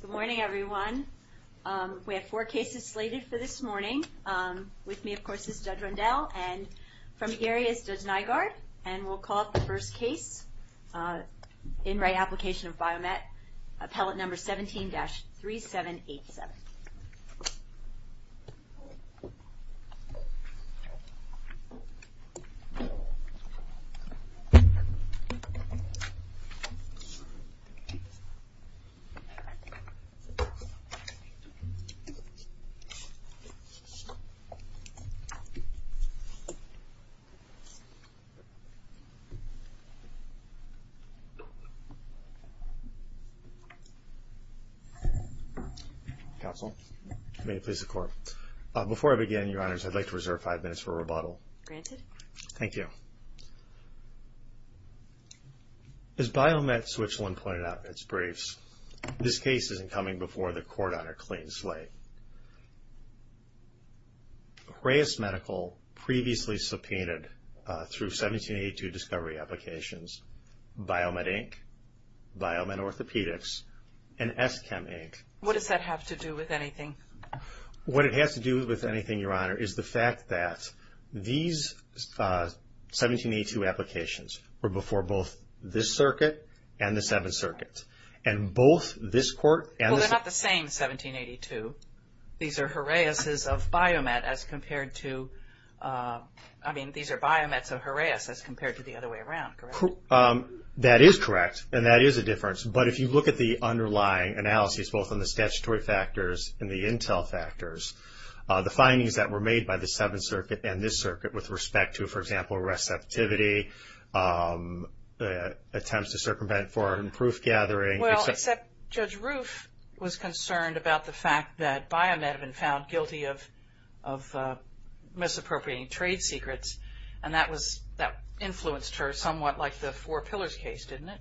Good morning, everyone. We have four cases slated for this morning. With me, of course, is Judge Rundell, and from the area is Judge Nygaard. And we'll call up the first case in Re Application of BioMet, appellate number 17-3787. Counsel, may it please the Court. Before I begin, Your Honors, I'd like to reserve five minutes for rebuttal. Thank you. As BioMet Switzerland pointed out in its briefs, this case isn't coming before the Court on a clean slate. Reus Medical previously subpoenaed through 1782 discovery applications BioMet Inc., BioMet Orthopedics, and Eschem Inc. What does that have to do with anything? What it has to do with anything, Your Honor, is the fact that these 1782 applications were before both this circuit and the Seventh Circuit. And both this Court and the... Well, they're not the same 1782. These are BioMets of Reus as compared to the other way around, correct? That is correct, and that is a difference. But if you look at the underlying analyses, both on the statutory factors and the intel factors, the findings that were made by the Seventh Circuit and this circuit with respect to, for example, receptivity, attempts to circumvent foreign proof gathering... Well, except Judge Roof was concerned about the fact that BioMet had been found guilty of misappropriating trade secrets. And that influenced her somewhat like the Four Pillars case, didn't it?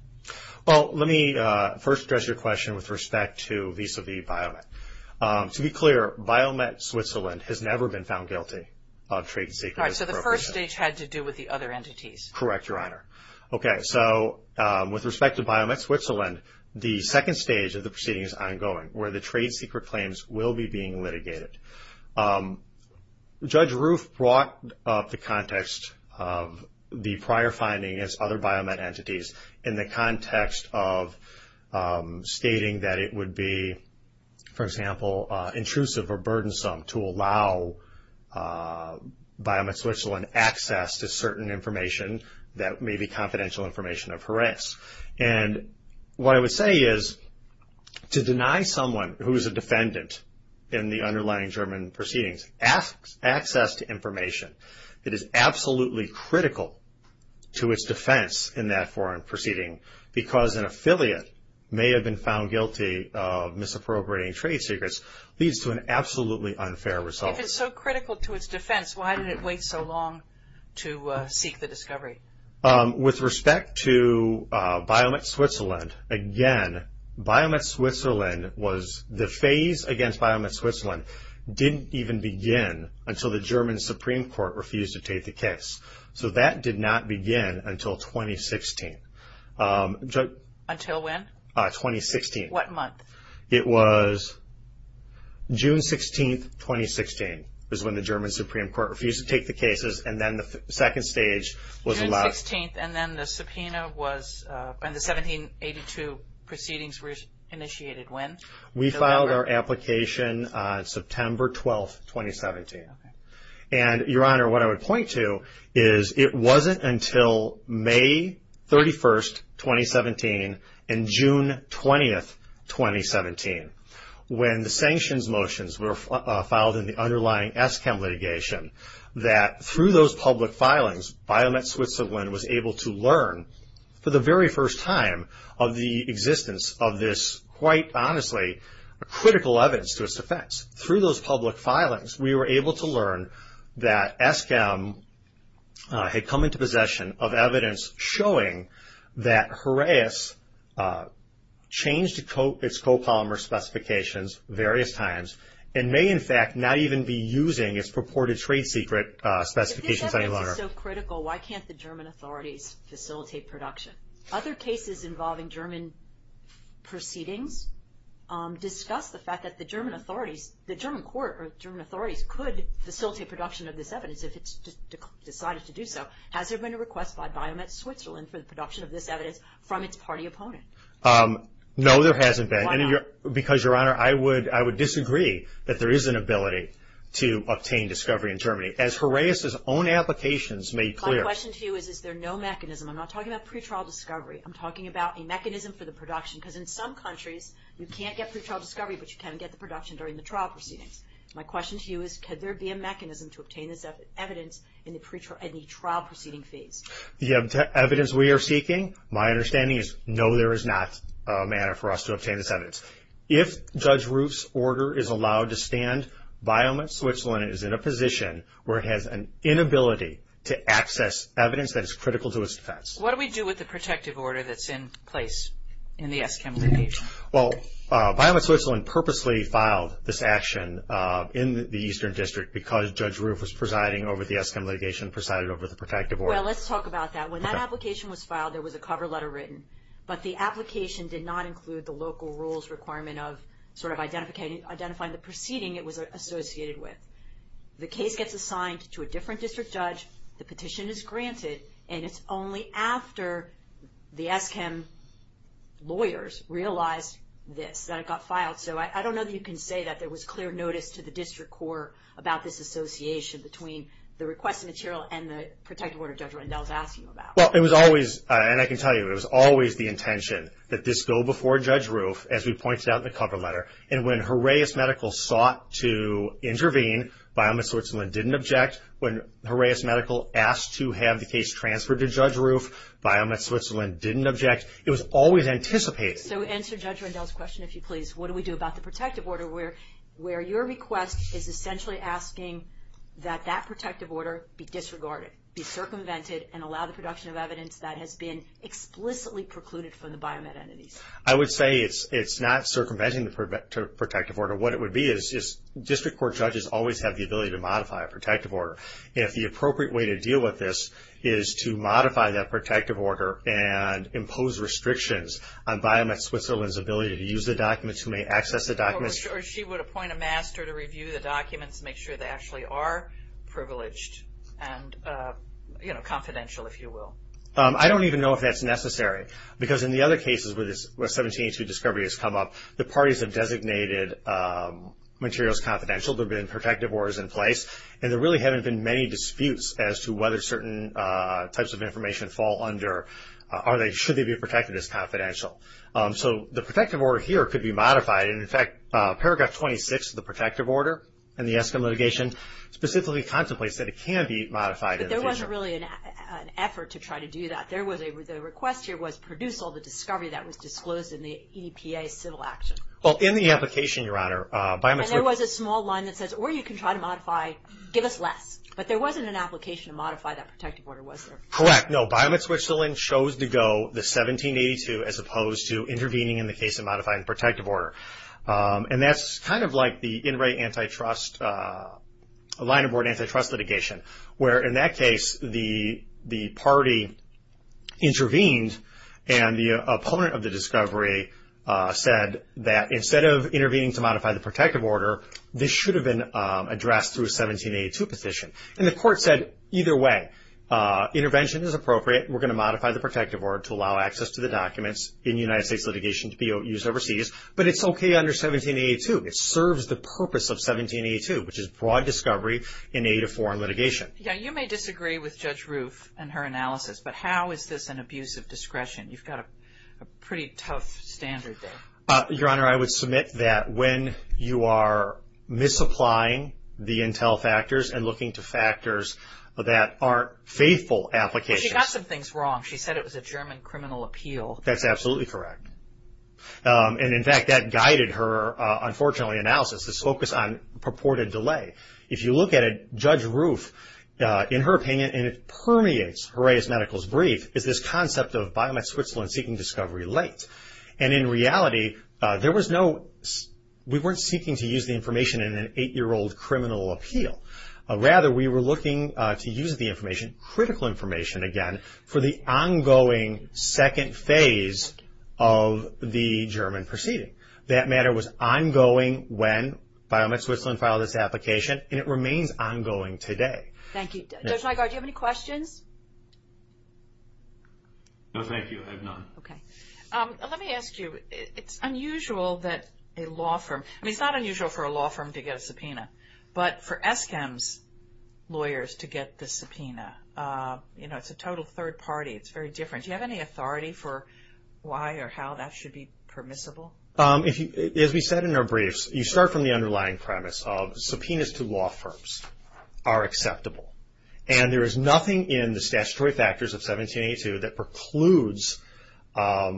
Well, let me first address your question with respect to vis-à-vis BioMet. To be clear, BioMet Switzerland has never been found guilty of trade secrets misappropriation. All right, so the first stage had to do with the other entities. Correct, Your Honor. Okay, so with respect to BioMet Switzerland, the second stage of the proceeding is ongoing, where the trade secret claims will be being litigated. Judge Roof brought up the context of the prior finding as other BioMet entities in the context of stating that it would be, for example, intrusive or burdensome to allow BioMet Switzerland access to certain information that may be confidential information of her ex. And what I would say is to deny someone who is a defendant in the underlying German proceedings access to information that is absolutely critical to its defense in that foreign proceeding because an affiliate may have been found guilty of misappropriating trade secrets leads to an absolutely unfair result. If it's so critical to its defense, why did it wait so long to seek the discovery? With respect to BioMet Switzerland, again, BioMet Switzerland was the phase against BioMet Switzerland didn't even begin until the German Supreme Court refused to take the case. So that did not begin until 2016. Until when? 2016. What month? It was June 16, 2016 was when the German Supreme Court refused to take the cases, and then the second stage was allowed. June 16, and then the subpoena was, and the 1782 proceedings were initiated when? We filed our application on September 12, 2017. And, Your Honor, what I would point to is it wasn't until May 31, 2017 and June 20, 2017, when the sanctions motions were filed in the underlying ESCAM litigation, that through those public filings, BioMet Switzerland was able to learn, for the very first time of the existence of this, quite honestly, critical evidence to its defense. Through those public filings, we were able to learn that ESCAM had come into possession of evidence showing that Horaeus changed its co-polymer specifications various times and may, in fact, not even be using its purported trade secret specifications any longer. If this evidence is so critical, why can't the German authorities facilitate production? Other cases involving German proceedings discuss the fact that the German authorities, the German court or German authorities could facilitate production of this evidence if it's decided to do so. Has there been a request by BioMet Switzerland for the production of this evidence from its party opponent? No, there hasn't been. Why not? Because, Your Honor, I would disagree that there is an ability to obtain discovery in Germany. As Horaeus' own applications made clear. My question to you is, is there no mechanism? I'm not talking about pretrial discovery. I'm talking about a mechanism for the production. Because in some countries, you can't get pretrial discovery, but you can get the production during the trial proceedings. My question to you is, could there be a mechanism to obtain this evidence in the trial proceeding phase? The evidence we are seeking, my understanding is, no, there is not a manner for us to obtain this evidence. If Judge Roof's order is allowed to stand, BioMet Switzerland is in a position where it has an inability to access evidence that is critical to its defense. What do we do with the protective order that's in place in the Eskimo case? Well, BioMet Switzerland purposely filed this action in the Eastern District because Judge Roof was presiding over the Eskimo litigation, presided over the protective order. Well, let's talk about that. When that application was filed, there was a cover letter written. But the application did not include the local rules requirement of sort of identifying the proceeding it was associated with. The case gets assigned to a different district judge, the petition is granted, and it's only after the Eskimo lawyers realized this that it got filed. So I don't know that you can say that there was clear notice to the district court about this association between the requested material and the protective order Judge Rendell is asking about. Well, it was always, and I can tell you, it was always the intention that this go before Judge Roof, as we pointed out in the cover letter. And when Horaeus Medical sought to intervene, BioMet Switzerland didn't object. When Horaeus Medical asked to have the case transferred to Judge Roof, BioMet Switzerland didn't object. It was always anticipated. So to answer Judge Rendell's question, if you please, what do we do about the protective order where your request is essentially asking that that protective order be disregarded, be circumvented, and allow the production of evidence that has been explicitly precluded from the BioMet entities? I would say it's not circumventing the protective order. What it would be is district court judges always have the ability to modify a protective order. If the appropriate way to deal with this is to modify that protective order and impose restrictions on BioMet Switzerland's ability to use the documents, who may access the documents. Or she would appoint a master to review the documents, make sure they actually are privileged and, you know, confidential, if you will. I don't even know if that's necessary. Because in the other cases where 1782 discovery has come up, the parties have designated materials confidential. There have been protective orders in place. And there really haven't been many disputes as to whether certain types of information fall under or should they be protected as confidential. So the protective order here could be modified. And, in fact, Paragraph 26 of the protective order in the Eskin litigation specifically contemplates that it can be modified. But there wasn't really an effort to try to do that. There was a request here was to produce all the discovery that was disclosed in the EPA civil action. Well, in the application, Your Honor, BioMet Switzerland And there was a small line that says, or you can try to modify, give us less. But there wasn't an application to modify that protective order, was there? Correct. No, BioMet Switzerland chose to go the 1782 as opposed to intervening in the case of modifying the protective order. And that's kind of like the In Re Antitrust, line of board antitrust litigation. Where, in that case, the party intervened. And the opponent of the discovery said that instead of intervening to modify the protective order, this should have been addressed through a 1782 petition. And the court said, either way, intervention is appropriate. We're going to modify the protective order to allow access to the documents in United States litigation to be used overseas. But it's okay under 1782. It serves the purpose of 1782, which is broad discovery in aid of foreign litigation. Yeah, you may disagree with Judge Roof and her analysis. But how is this an abuse of discretion? You've got a pretty tough standard there. Your Honor, I would submit that when you are misapplying the intel factors and looking to factors that aren't faithful applications. She got some things wrong. She said it was a German criminal appeal. That's absolutely correct. And, in fact, that guided her, unfortunately, analysis. This focus on purported delay. If you look at it, Judge Roof, in her opinion, and it permeates Horaeus Medical's brief, is this concept of Biomed Switzerland seeking discovery late. And, in reality, we weren't seeking to use the information in an eight-year-old criminal appeal. Rather, we were looking to use the information, critical information, again, for the ongoing second phase of the German proceeding. That matter was ongoing when Biomed Switzerland filed this application. And it remains ongoing today. Thank you. Judge Nygaard, do you have any questions? No, thank you. I have none. Okay. Let me ask you. It's unusual that a law firm – I mean, it's not unusual for a law firm to get a subpoena. But for Eskam's lawyers to get the subpoena, you know, it's a total third party. It's very different. Do you have any authority for why or how that should be permissible? As we said in our briefs, you start from the underlying premise of subpoenas to law firms are acceptable. And there is nothing in the statutory factors of 1782 that precludes a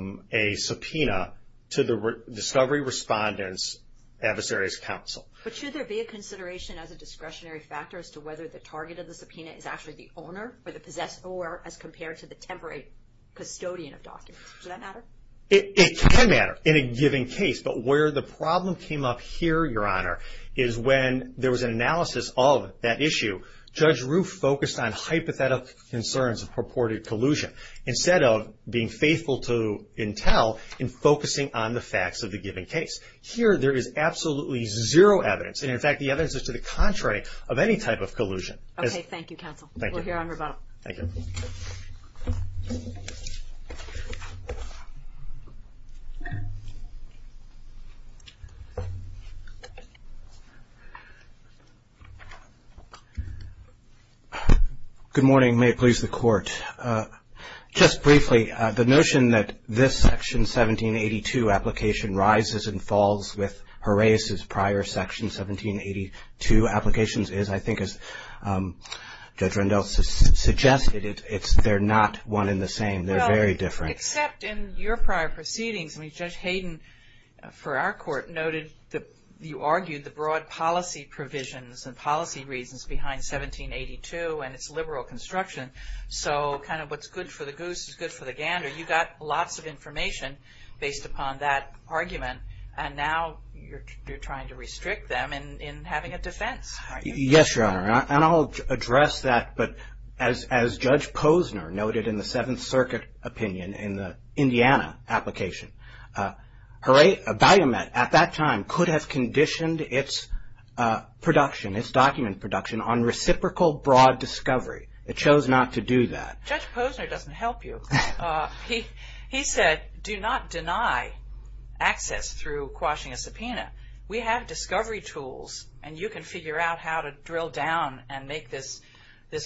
subpoena to the discovery respondent's adversaries' counsel. But should there be a consideration as a discretionary factor as to whether the target of the subpoena is actually the owner or the possessor as compared to the temporary custodian of documents? Does that matter? It can matter in a given case. But where the problem came up here, Your Honor, is when there was an analysis of that issue, Judge Roof focused on hypothetical concerns of purported collusion instead of being faithful to intel and focusing on the facts of the given case. Here there is absolutely zero evidence. And, in fact, the evidence is to the contrary of any type of collusion. Okay. Thank you, counsel. Thank you. We'll hear on rebuttal. Thank you. Good morning. May it please the Court. Just briefly, the notion that this Section 1782 application rises and falls with Horace's prior Section 1782 applications is, I think, as Judge Rendell suggested, they're not one and the same. They're very different. Well, except in your prior proceedings. I mean, Judge Hayden, for our court, noted that you argued the broad policy provisions and policy reasons behind 1782 and its liberal construction. So kind of what's good for the goose is good for the gander. You got lots of information based upon that argument. And now you're trying to restrict them in having a defense. Yes, Your Honor. And I'll address that. But as Judge Posner noted in the Seventh Circuit opinion in the Indiana application, Horace Valumet at that time could have conditioned its production, its document production, on reciprocal broad discovery. It chose not to do that. Judge Posner doesn't help you. He said, do not deny access through quashing a subpoena. We have discovery tools, and you can figure out how to drill down and make this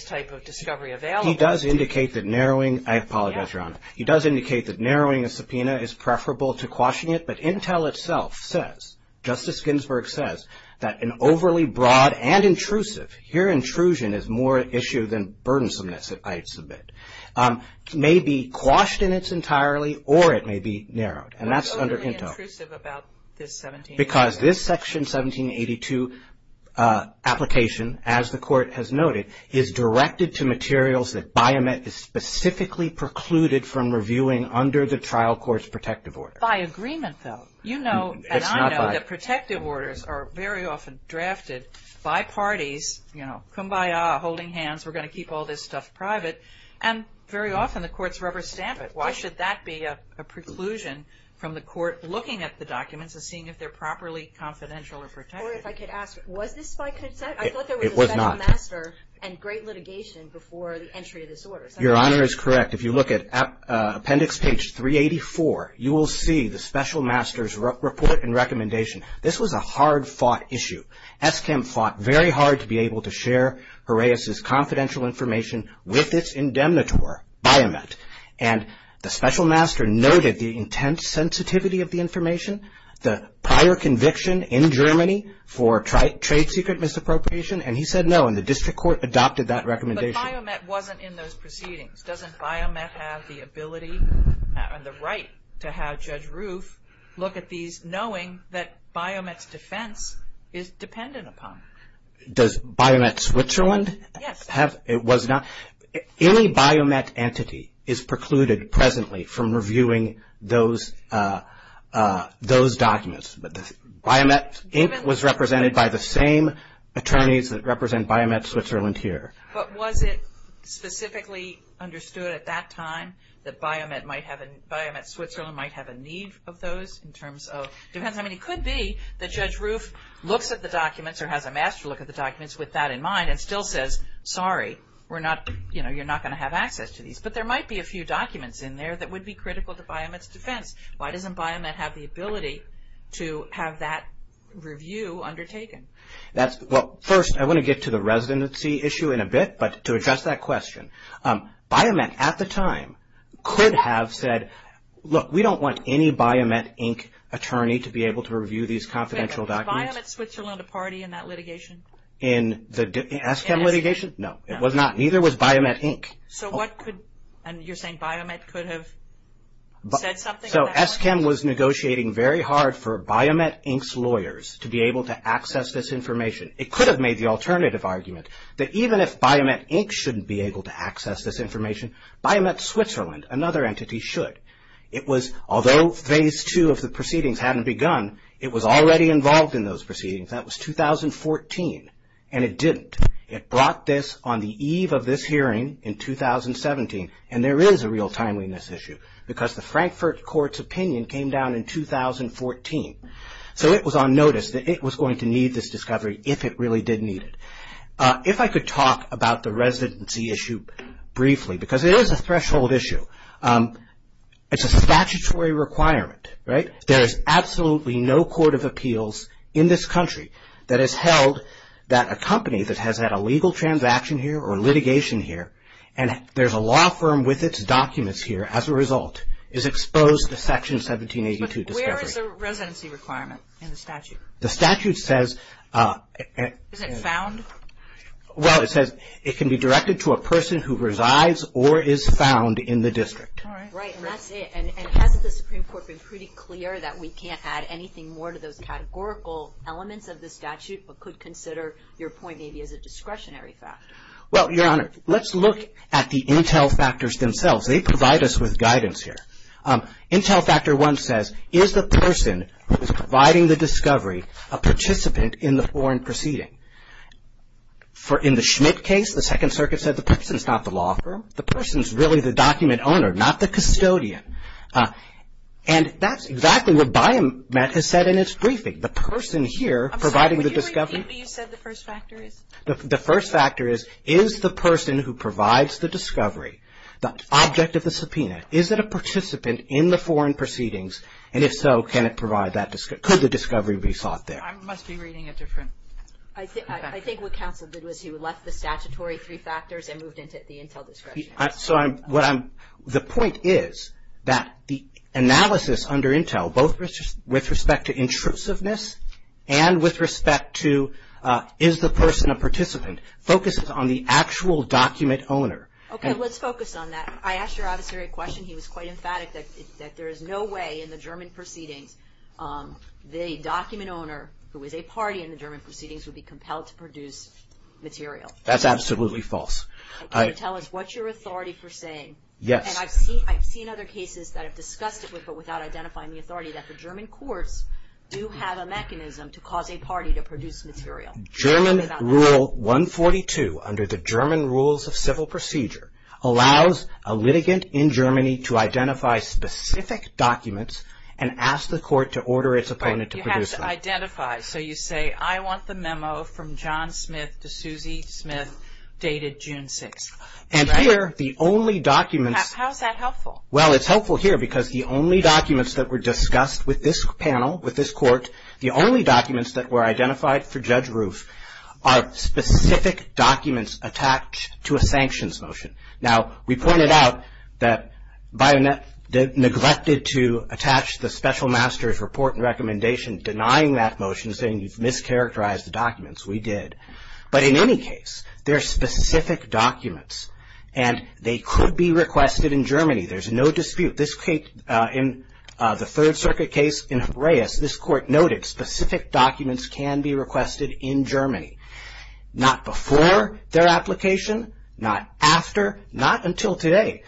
type of discovery available. He does indicate that narrowing the subpoena is preferable to quashing it. But Intel itself says, Justice Ginsburg says, that an overly broad and intrusive, here intrusion is more an issue than burdensomeness, I submit, may be quashed in its entirely or it may be narrowed. And that's under Intel. Overly intrusive about this 1782. Because this Section 1782 application, as the Court has noted, is directed to materials that Biomet is specifically precluded from reviewing under the trial court's protective order. By agreement, though. You know, and I know, that protective orders are very often drafted by parties, you know, kumbaya, holding hands, we're going to keep all this stuff private, and very often the courts rubber stamp it. Why should that be a preclusion from the court looking at the documents and seeing if they're properly confidential or protected? Or if I could ask, was this by consent? It was not. I thought there was a special master and great litigation before the entry of this order. Your Honor is correct. If you look at appendix page 384, you will see the special master's report and recommendation. This was a hard-fought issue. Eskim fought very hard to be able to share Horaeus's confidential information with its indemnitor, Biomet. And the special master noted the intense sensitivity of the information, the prior conviction in Germany for trade secret misappropriation, and he said no, and the district court adopted that recommendation. But Biomet wasn't in those proceedings. Doesn't Biomet have the ability and the right to have Judge Roof look at these knowing that Biomet's defense is dependent upon it? Does Biomet Switzerland have? Yes. It was not. Any Biomet entity is precluded presently from reviewing those documents. But Biomet was represented by the same attorneys that represent Biomet Switzerland here. But was it specifically understood at that time that Biomet Switzerland might have a need of those in terms of defense? I mean, it could be that Judge Roof looks at the documents or has a master look at the documents with that in mind and still says, sorry, you're not going to have access to these. But there might be a few documents in there that would be critical to Biomet's defense. Why doesn't Biomet have the ability to have that review undertaken? Well, first, I want to get to the residency issue in a bit. But to address that question, Biomet at the time could have said, look, we don't want any Biomet Inc. attorney to be able to review these confidential documents. Was Biomet Switzerland a party in that litigation? In the Eskim litigation? No. It was not. Neither was Biomet Inc. So what could, and you're saying Biomet could have said something about that? So Eskim was negotiating very hard for Biomet Inc.'s lawyers to be able to access this information. It could have made the alternative argument that even if Biomet Inc. shouldn't be able to access this information, Biomet Switzerland, another entity, should. It was, although phase two of the proceedings hadn't begun, it was already involved in those proceedings. That was 2014. And it didn't. It brought this on the eve of this hearing in 2017. And there is a real timeliness issue because the Frankfurt Court's opinion came down in 2014. So it was on notice that it was going to need this discovery if it really did need it. If I could talk about the residency issue briefly, because it is a threshold issue. It's a statutory requirement, right? There is absolutely no court of appeals in this country that has held that a company that has had a legal transaction here or litigation here and there's a law firm with its documents here as a result, is exposed to section 1782 discovery. But where is the residency requirement in the statute? The statute says... Is it found? Well, it says it can be directed to a person who resides or is found in the district. Right, and that's it. And hasn't the Supreme Court been pretty clear that we can't add anything more to those categorical elements of the statute but could consider your point maybe as a discretionary fact? Well, Your Honor, let's look at the intel factors themselves. They provide us with guidance here. Intel factor one says, is the person who is providing the discovery a participant in the foreign proceeding? In the Schmidt case, the Second Circuit said the person is not the law firm. The person is really the document owner, not the custodian. And that's exactly what Biomet has said in its briefing. The person here providing the discovery... I'm sorry, can you repeat what you said the first factor is? The first factor is, is the person who provides the discovery the object of the subpoena? Is it a participant in the foreign proceedings? And if so, can it provide that discovery? Could the discovery be sought there? I must be reading a different... I think what counsel did was he left the statutory three factors and moved into the intel discretionary factors. The point is that the analysis under intel, both with respect to intrusiveness and with respect to is the person a participant, focuses on the actual document owner. Okay, let's focus on that. I asked your officer a question. He was quite emphatic that there is no way in the German proceedings the document owner, who is a party in the German proceedings, would be compelled to produce material. That's absolutely false. Can you tell us what's your authority for saying? Yes. And I've seen other cases that have discussed it but without identifying the authority, that the German courts do have a mechanism to cause a party to produce material. German Rule 142, under the German Rules of Civil Procedure, allows a litigant in Germany to identify specific documents and ask the court to order its opponent to produce them. Right, you have to identify. So you say, I want the memo from John Smith to Susie Smith dated June 6th. And here, the only documents... How is that helpful? Well, it's helpful here because the only documents that were discussed with this panel, with this court, the only documents that were identified for Judge Roof are specific documents attached to a sanctions motion. Now, we pointed out that Bionet neglected to attach the special master's report and recommendation denying that motion, saying you've mischaracterized the documents. We did. But in any case, they're specific documents and they could be requested in Germany. There's no dispute. In the Third Circuit case in Horaeus, this court noted specific documents can be requested in Germany. Not before their application, not after, not until today.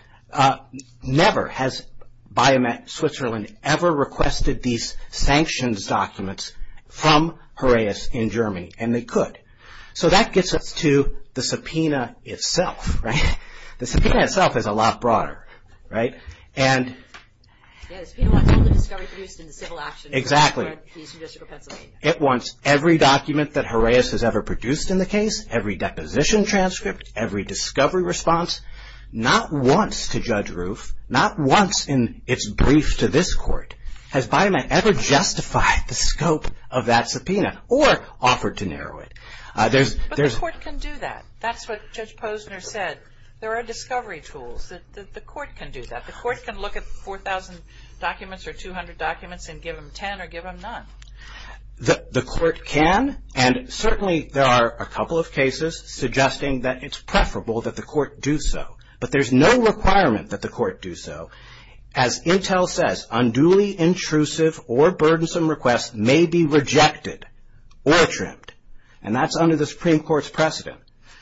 Never has Bionet Switzerland ever requested these sanctions documents from Horaeus in Germany, and they could. So that gets us to the subpoena itself, right? The subpoena itself is a lot broader, right? And... Yeah, the subpoena wants all the discovery produced in the civil action... Exactly. ...of the Eastern District of Pennsylvania. It wants every document that Horaeus has ever produced in the case, every deposition transcript, every discovery response, not once to Judge Roof, not once in its brief to this court, has Bionet ever justified the scope of that subpoena or offered to narrow it. But this court can do that. That's what Judge Posner said. There are discovery tools. The court can do that. The court can look at 4,000 documents or 200 documents and give them 10 or give them none. The court can, and certainly there are a couple of cases suggesting that it's preferable that the court do so. But there's no requirement that the court do so. As Intel says, unduly intrusive or burdensome requests may be rejected or trimmed, and that's under the Supreme Court's precedent.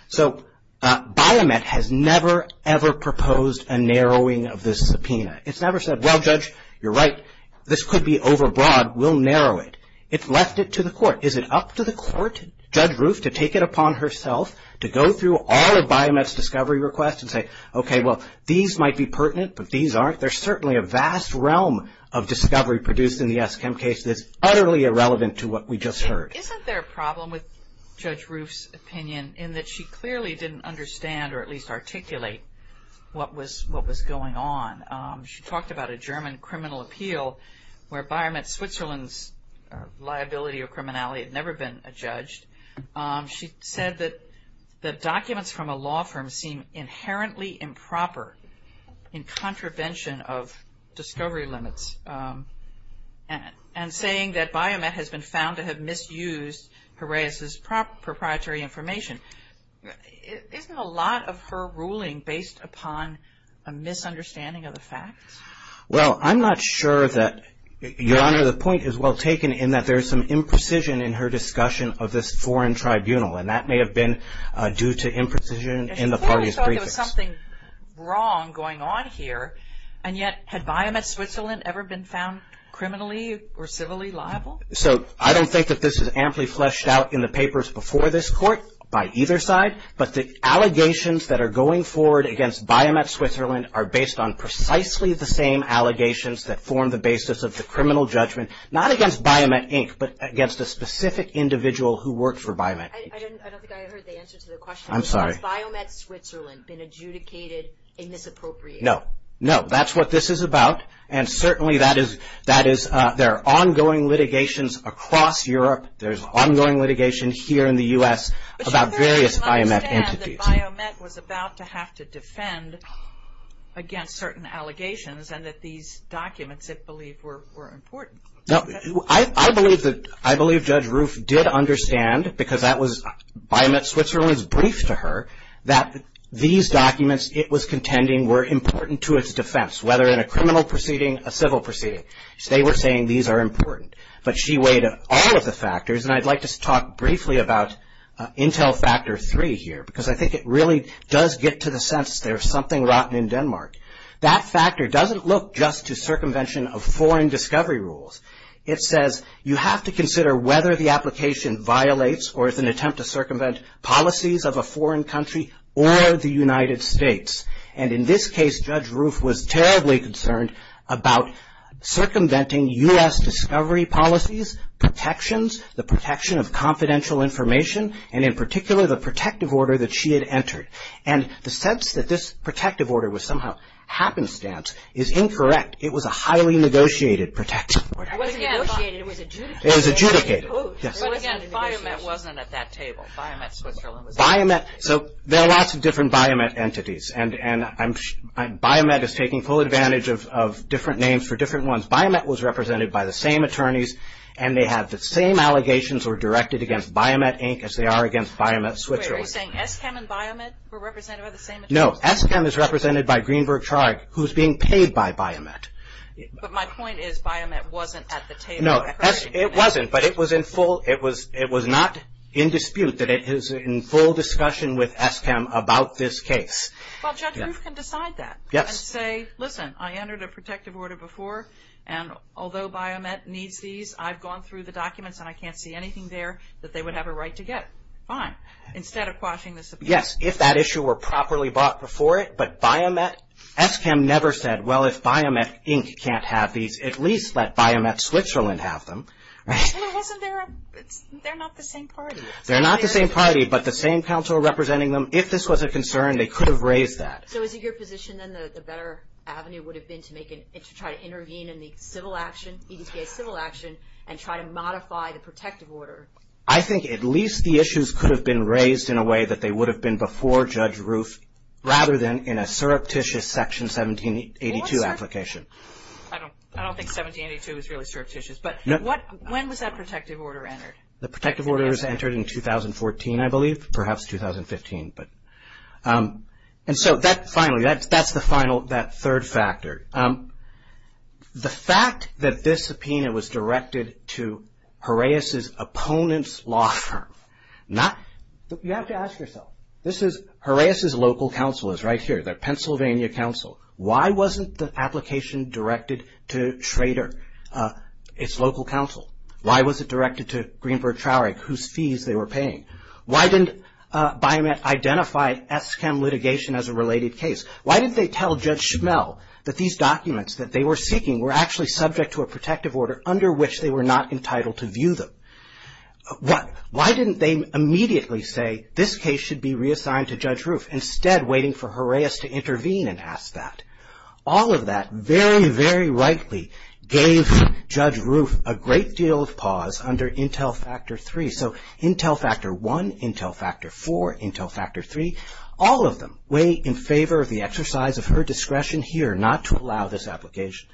So Bionet has never, ever proposed a narrowing of this subpoena. It's never said, well, Judge, you're right, this could be overbroad, we'll narrow it. It's left it to the court. Is it up to the court, Judge Roof, to take it upon herself to go through all of Bionet's discovery requests and say, okay, well, these might be pertinent, but these aren't? There's certainly a vast realm of discovery produced in the Eskim case that's utterly irrelevant to what we just heard. Isn't there a problem with Judge Roof's opinion in that she clearly didn't understand or at least articulate what was going on? She talked about a German criminal appeal where Bionet Switzerland's liability or criminality had never been adjudged. She said that the documents from a law firm seem inherently improper in contravention of discovery limits. And saying that Bionet has been found to have misused Piraeus's proprietary information. Isn't a lot of her ruling based upon a misunderstanding of the facts? Well, I'm not sure that, Your Honor, the point is well taken in that there is some imprecision in her discussion of this foreign tribunal, and that may have been due to imprecision in the parties' briefings. She clearly thought there was something wrong going on here, and yet had Bionet Switzerland ever been found criminally or civilly liable? So, I don't think that this is amply fleshed out in the papers before this court by either side, but the allegations that are going forward against Bionet Switzerland are based on precisely the same allegations that form the basis of the criminal judgment, not against Bionet Inc., but against a specific individual who worked for Bionet. I don't think I heard the answer to the question. I'm sorry. Has Bionet Switzerland been adjudicated a misappropriator? No. No. That's what this is about, and certainly there are ongoing litigations across Europe. There's ongoing litigation here in the U.S. about various Bionet entities. But you clearly did not understand that Bionet was about to have to defend against certain allegations and that these documents, it believed, were important. No. I believe Judge Roof did understand, because that was Bionet Switzerland's brief to her, that these documents it was contending were important to its defense, whether in a criminal proceeding, a civil proceeding. They were saying these are important. But she weighed all of the factors, and I'd like to talk briefly about Intel Factor 3 here, because I think it really does get to the sense there's something rotten in Denmark. That factor doesn't look just to circumvention of foreign discovery rules. It says you have to consider whether the application violates or is an attempt to circumvent policies of a foreign country or the United States. And in this case, Judge Roof was terribly concerned about circumventing U.S. discovery policies, protections, the protection of confidential information, and in particular the protective order that she had entered. And the sense that this protective order was somehow happenstance is incorrect. It was a highly negotiated protective order. It was adjudicated. It was adjudicated. But again, BioMet wasn't at that table. BioMet Switzerland was at that table. So there are lots of different BioMet entities, and BioMet is taking full advantage of different names for different ones. BioMet was represented by the same attorneys, and they have the same allegations were directed against BioMet Inc. as they are against BioMet Switzerland. Wait, are you saying ESCAM and BioMet were represented by the same attorneys? No, ESCAM is represented by Greenberg Charg, who's being paid by BioMet. But my point is BioMet wasn't at the table. No, it wasn't, but it was in full. It was not in dispute that it is in full discussion with ESCAM about this case. Well, Judge Roof can decide that. Yes. And say, listen, I entered a protective order before, and although BioMet needs these, I've gone through the documents, and I can't see anything there that they would have a right to get. Fine. Instead of quashing this opinion. Yes, if that issue were properly brought before it. But BioMet, ESCAM never said, well, if BioMet Inc. can't have these, at least let BioMet Switzerland have them. Well, it wasn't their, they're not the same party. They're not the same party, but the same counsel representing them. If this was a concern, they could have raised that. So is it your position, then, that the better avenue would have been to try to intervene in the civil action, EDTA civil action, and try to modify the protective order? I think at least the issues could have been raised in a way that they would have been before Judge Roof, rather than in a surreptitious Section 1782 application. I don't think 1782 is really surreptitious, but when was that protective order entered? The protective order was entered in 2014, I believe, perhaps 2015. And so, finally, that's the final, that third factor. The fact that this subpoena was directed to Harais's opponent's law firm. You have to ask yourself. Harais's local counsel is right here. They're Pennsylvania counsel. Why wasn't the application directed to Schrader, its local counsel? Why was it directed to Greenberg-Traurig, whose fees they were paying? Why didn't Biomet identify ESSCAM litigation as a related case? Why didn't they tell Judge Schmel that these documents that they were seeking were actually subject to a protective order under which they were not entitled to view them? Why didn't they immediately say, this case should be reassigned to Judge Roof, instead waiting for Harais to intervene and ask that? All of that, very, very rightly, gave Judge Roof a great deal of pause under Intel Factor 3. So, Intel Factor 1, Intel Factor 4, Intel Factor 3, all of them weigh in favor of the exercise of her discretion here not to allow this application.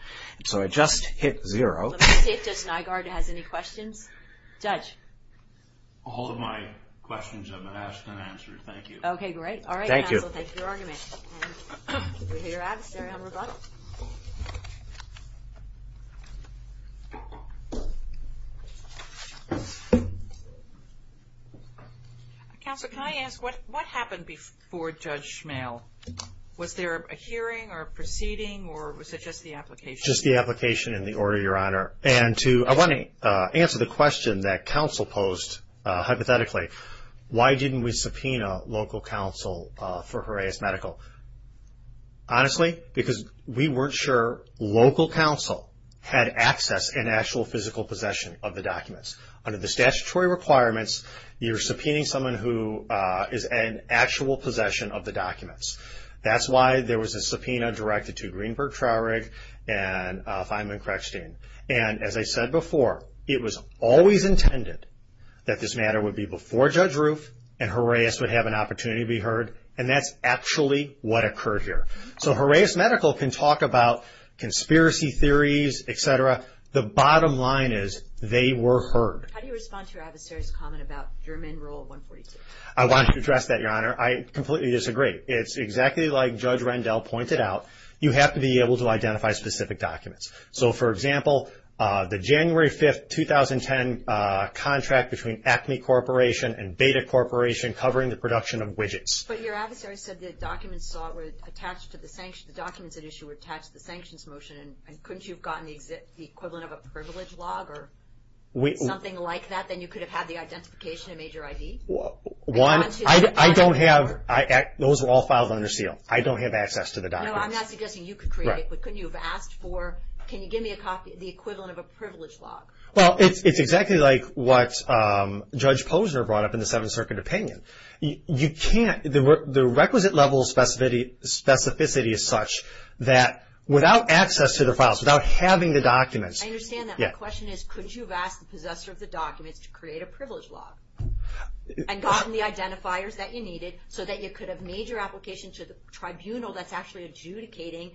So, I just hit zero. Let me see if Judge Nygaard has any questions. Judge? All of my questions have been asked and answered. Thank you. Okay, great. Thank you. All right, counsel, thank you for your argument. We're here at the ceremony. I'm Rebecca. Counsel, can I ask, what happened before Judge Schmel? Was there a hearing or a proceeding, or was it just the application? Just the application and the order, Your Honor. And to answer the question that counsel posed, hypothetically, why didn't we subpoena local counsel for Harais Medical? Honestly, because we weren't sure local counsel had access and actual physical possession of the documents. Under the statutory requirements, you're subpoenaing someone who is in actual possession of the documents. That's why there was a subpoena directed to Greenberg Traurig and Feynman Crechstein. And as I said before, it was always intended that this matter would be before Judge Roof and Harais would have an opportunity to be heard, and that's actually what occurred here. So Harais Medical can talk about conspiracy theories, et cetera. The bottom line is they were heard. How do you respond to your adversary's comment about German Rule 142? I want to address that, Your Honor. I completely disagree. It's exactly like Judge Rendell pointed out. You have to be able to identify specific documents. So, for example, the January 5, 2010 contract between Acme Corporation and Beta Corporation covering the production of widgets. But your adversary said the documents at issue were attached to the sanctions motion, and couldn't you have gotten the equivalent of a privilege log or something like that? Then you could have had the identification and made your ID? One, I don't have. Those were all filed under seal. I don't have access to the documents. No, I'm not suggesting you could create it, but couldn't you have asked for can you give me the equivalent of a privilege log? Well, it's exactly like what Judge Posner brought up in the Seventh Circuit opinion. You can't. The requisite level of specificity is such that without access to the files, without having the documents. I understand that. My question is couldn't you have asked the possessor of the documents to create a privilege log and gotten the identifiers that you needed so that you could have made your application to the tribunal that's actually adjudicating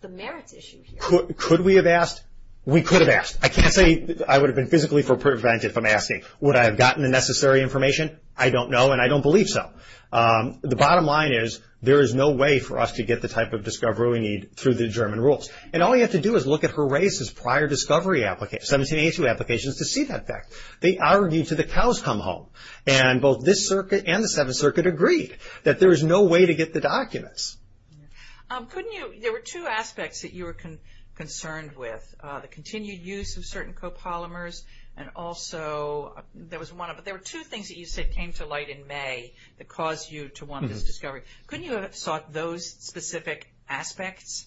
the merits issue here? Could we have asked? We could have asked. I can't say I would have been physically prevented from asking. Would I have gotten the necessary information? I don't know, and I don't believe so. The bottom line is there is no way for us to get the type of discovery we need through the German rules. And all you have to do is look at Horace's prior 1782 applications to see that fact. They argued to the cows come home. And both this circuit and the Seventh Circuit agreed that there is no way to get the documents. Couldn't you, there were two aspects that you were concerned with, the continued use of certain copolymers and also there was one, but there were two things that you said came to light in May that caused you to want this discovery. Couldn't you have sought those specific aspects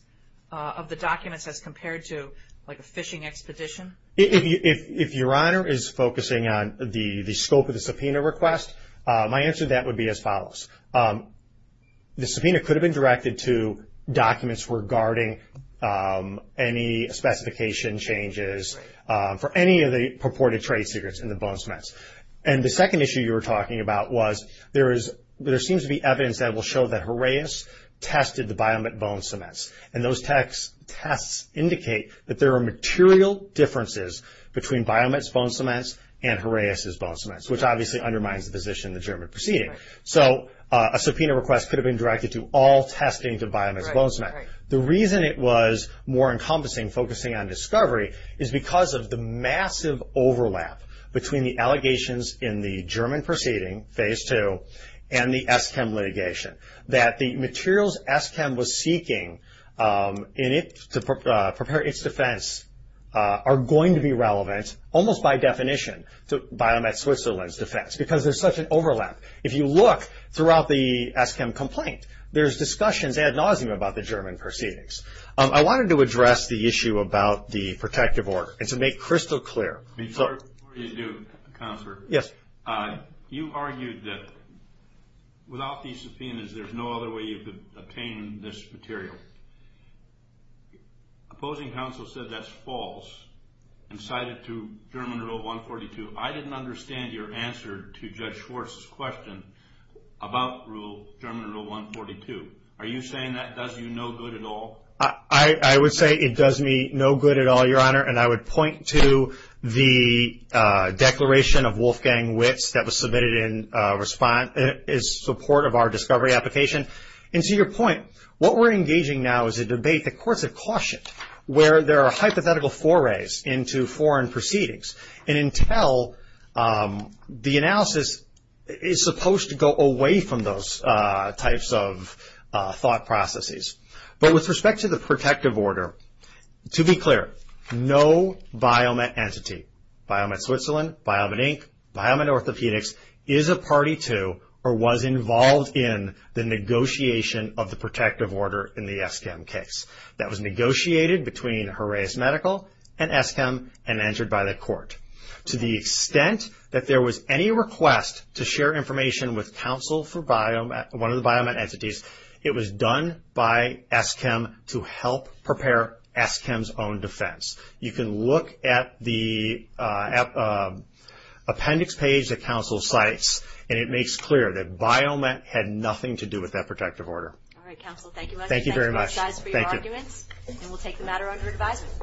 of the documents as compared to like a fishing expedition? If Your Honor is focusing on the scope of the subpoena request, my answer to that would be as follows. The subpoena could have been directed to documents regarding any specification changes for any of the purported trade secrets in the bone cements. And the second issue you were talking about was there is, there seems to be evidence that will show that Horace tested the Biomet bone cements. And those tests indicate that there are material differences between Biomet's bone cements and Horace's bone cements, which obviously undermines the position in the German proceeding. So a subpoena request could have been directed to all testing to Biomet's bone cement. The reason it was more encompassing, focusing on discovery, is because of the massive overlap between the allegations in the German proceeding, phase two, and the Eschem litigation. That the materials Eschem was seeking to prepare its defense are going to be relevant, almost by definition, to Biomet Switzerland's defense because there's such an overlap. If you look throughout the Eschem complaint, there's discussions ad nauseum about the German proceedings. I wanted to address the issue about the protective order and to make crystal clear. Before you do, Counselor. Yes. You argued that without these subpoenas, there's no other way you could obtain this material. Opposing counsel said that's false and cited to German Rule 142. I didn't understand your answer to Judge Schwartz's question about Rule, German Rule 142. Are you saying that does you no good at all? I would say it does me no good at all, Your Honor. I would point to the declaration of Wolfgang Witz that was submitted in support of our discovery application. To your point, what we're engaging now is a debate the courts have cautioned where there are hypothetical forays into foreign proceedings. Intel, the analysis, is supposed to go away from those types of thought processes. But with respect to the protective order, to be clear, no Biomet entity, Biomet Switzerland, Biomet Inc., Biomet Orthopedics is a party to or was involved in the negotiation of the protective order in the Eschem case. That was negotiated between Horaeus Medical and Eschem and entered by the court. To the extent that there was any request to share information with counsel for one of the Biomet entities, it was done by Eschem to help prepare Eschem's own defense. You can look at the appendix page that counsel cites, and it makes clear that Biomet had nothing to do with that protective order. All right, counsel, thank you very much. Thank you very much. Thank you for your arguments, and we'll take the matter under advisement.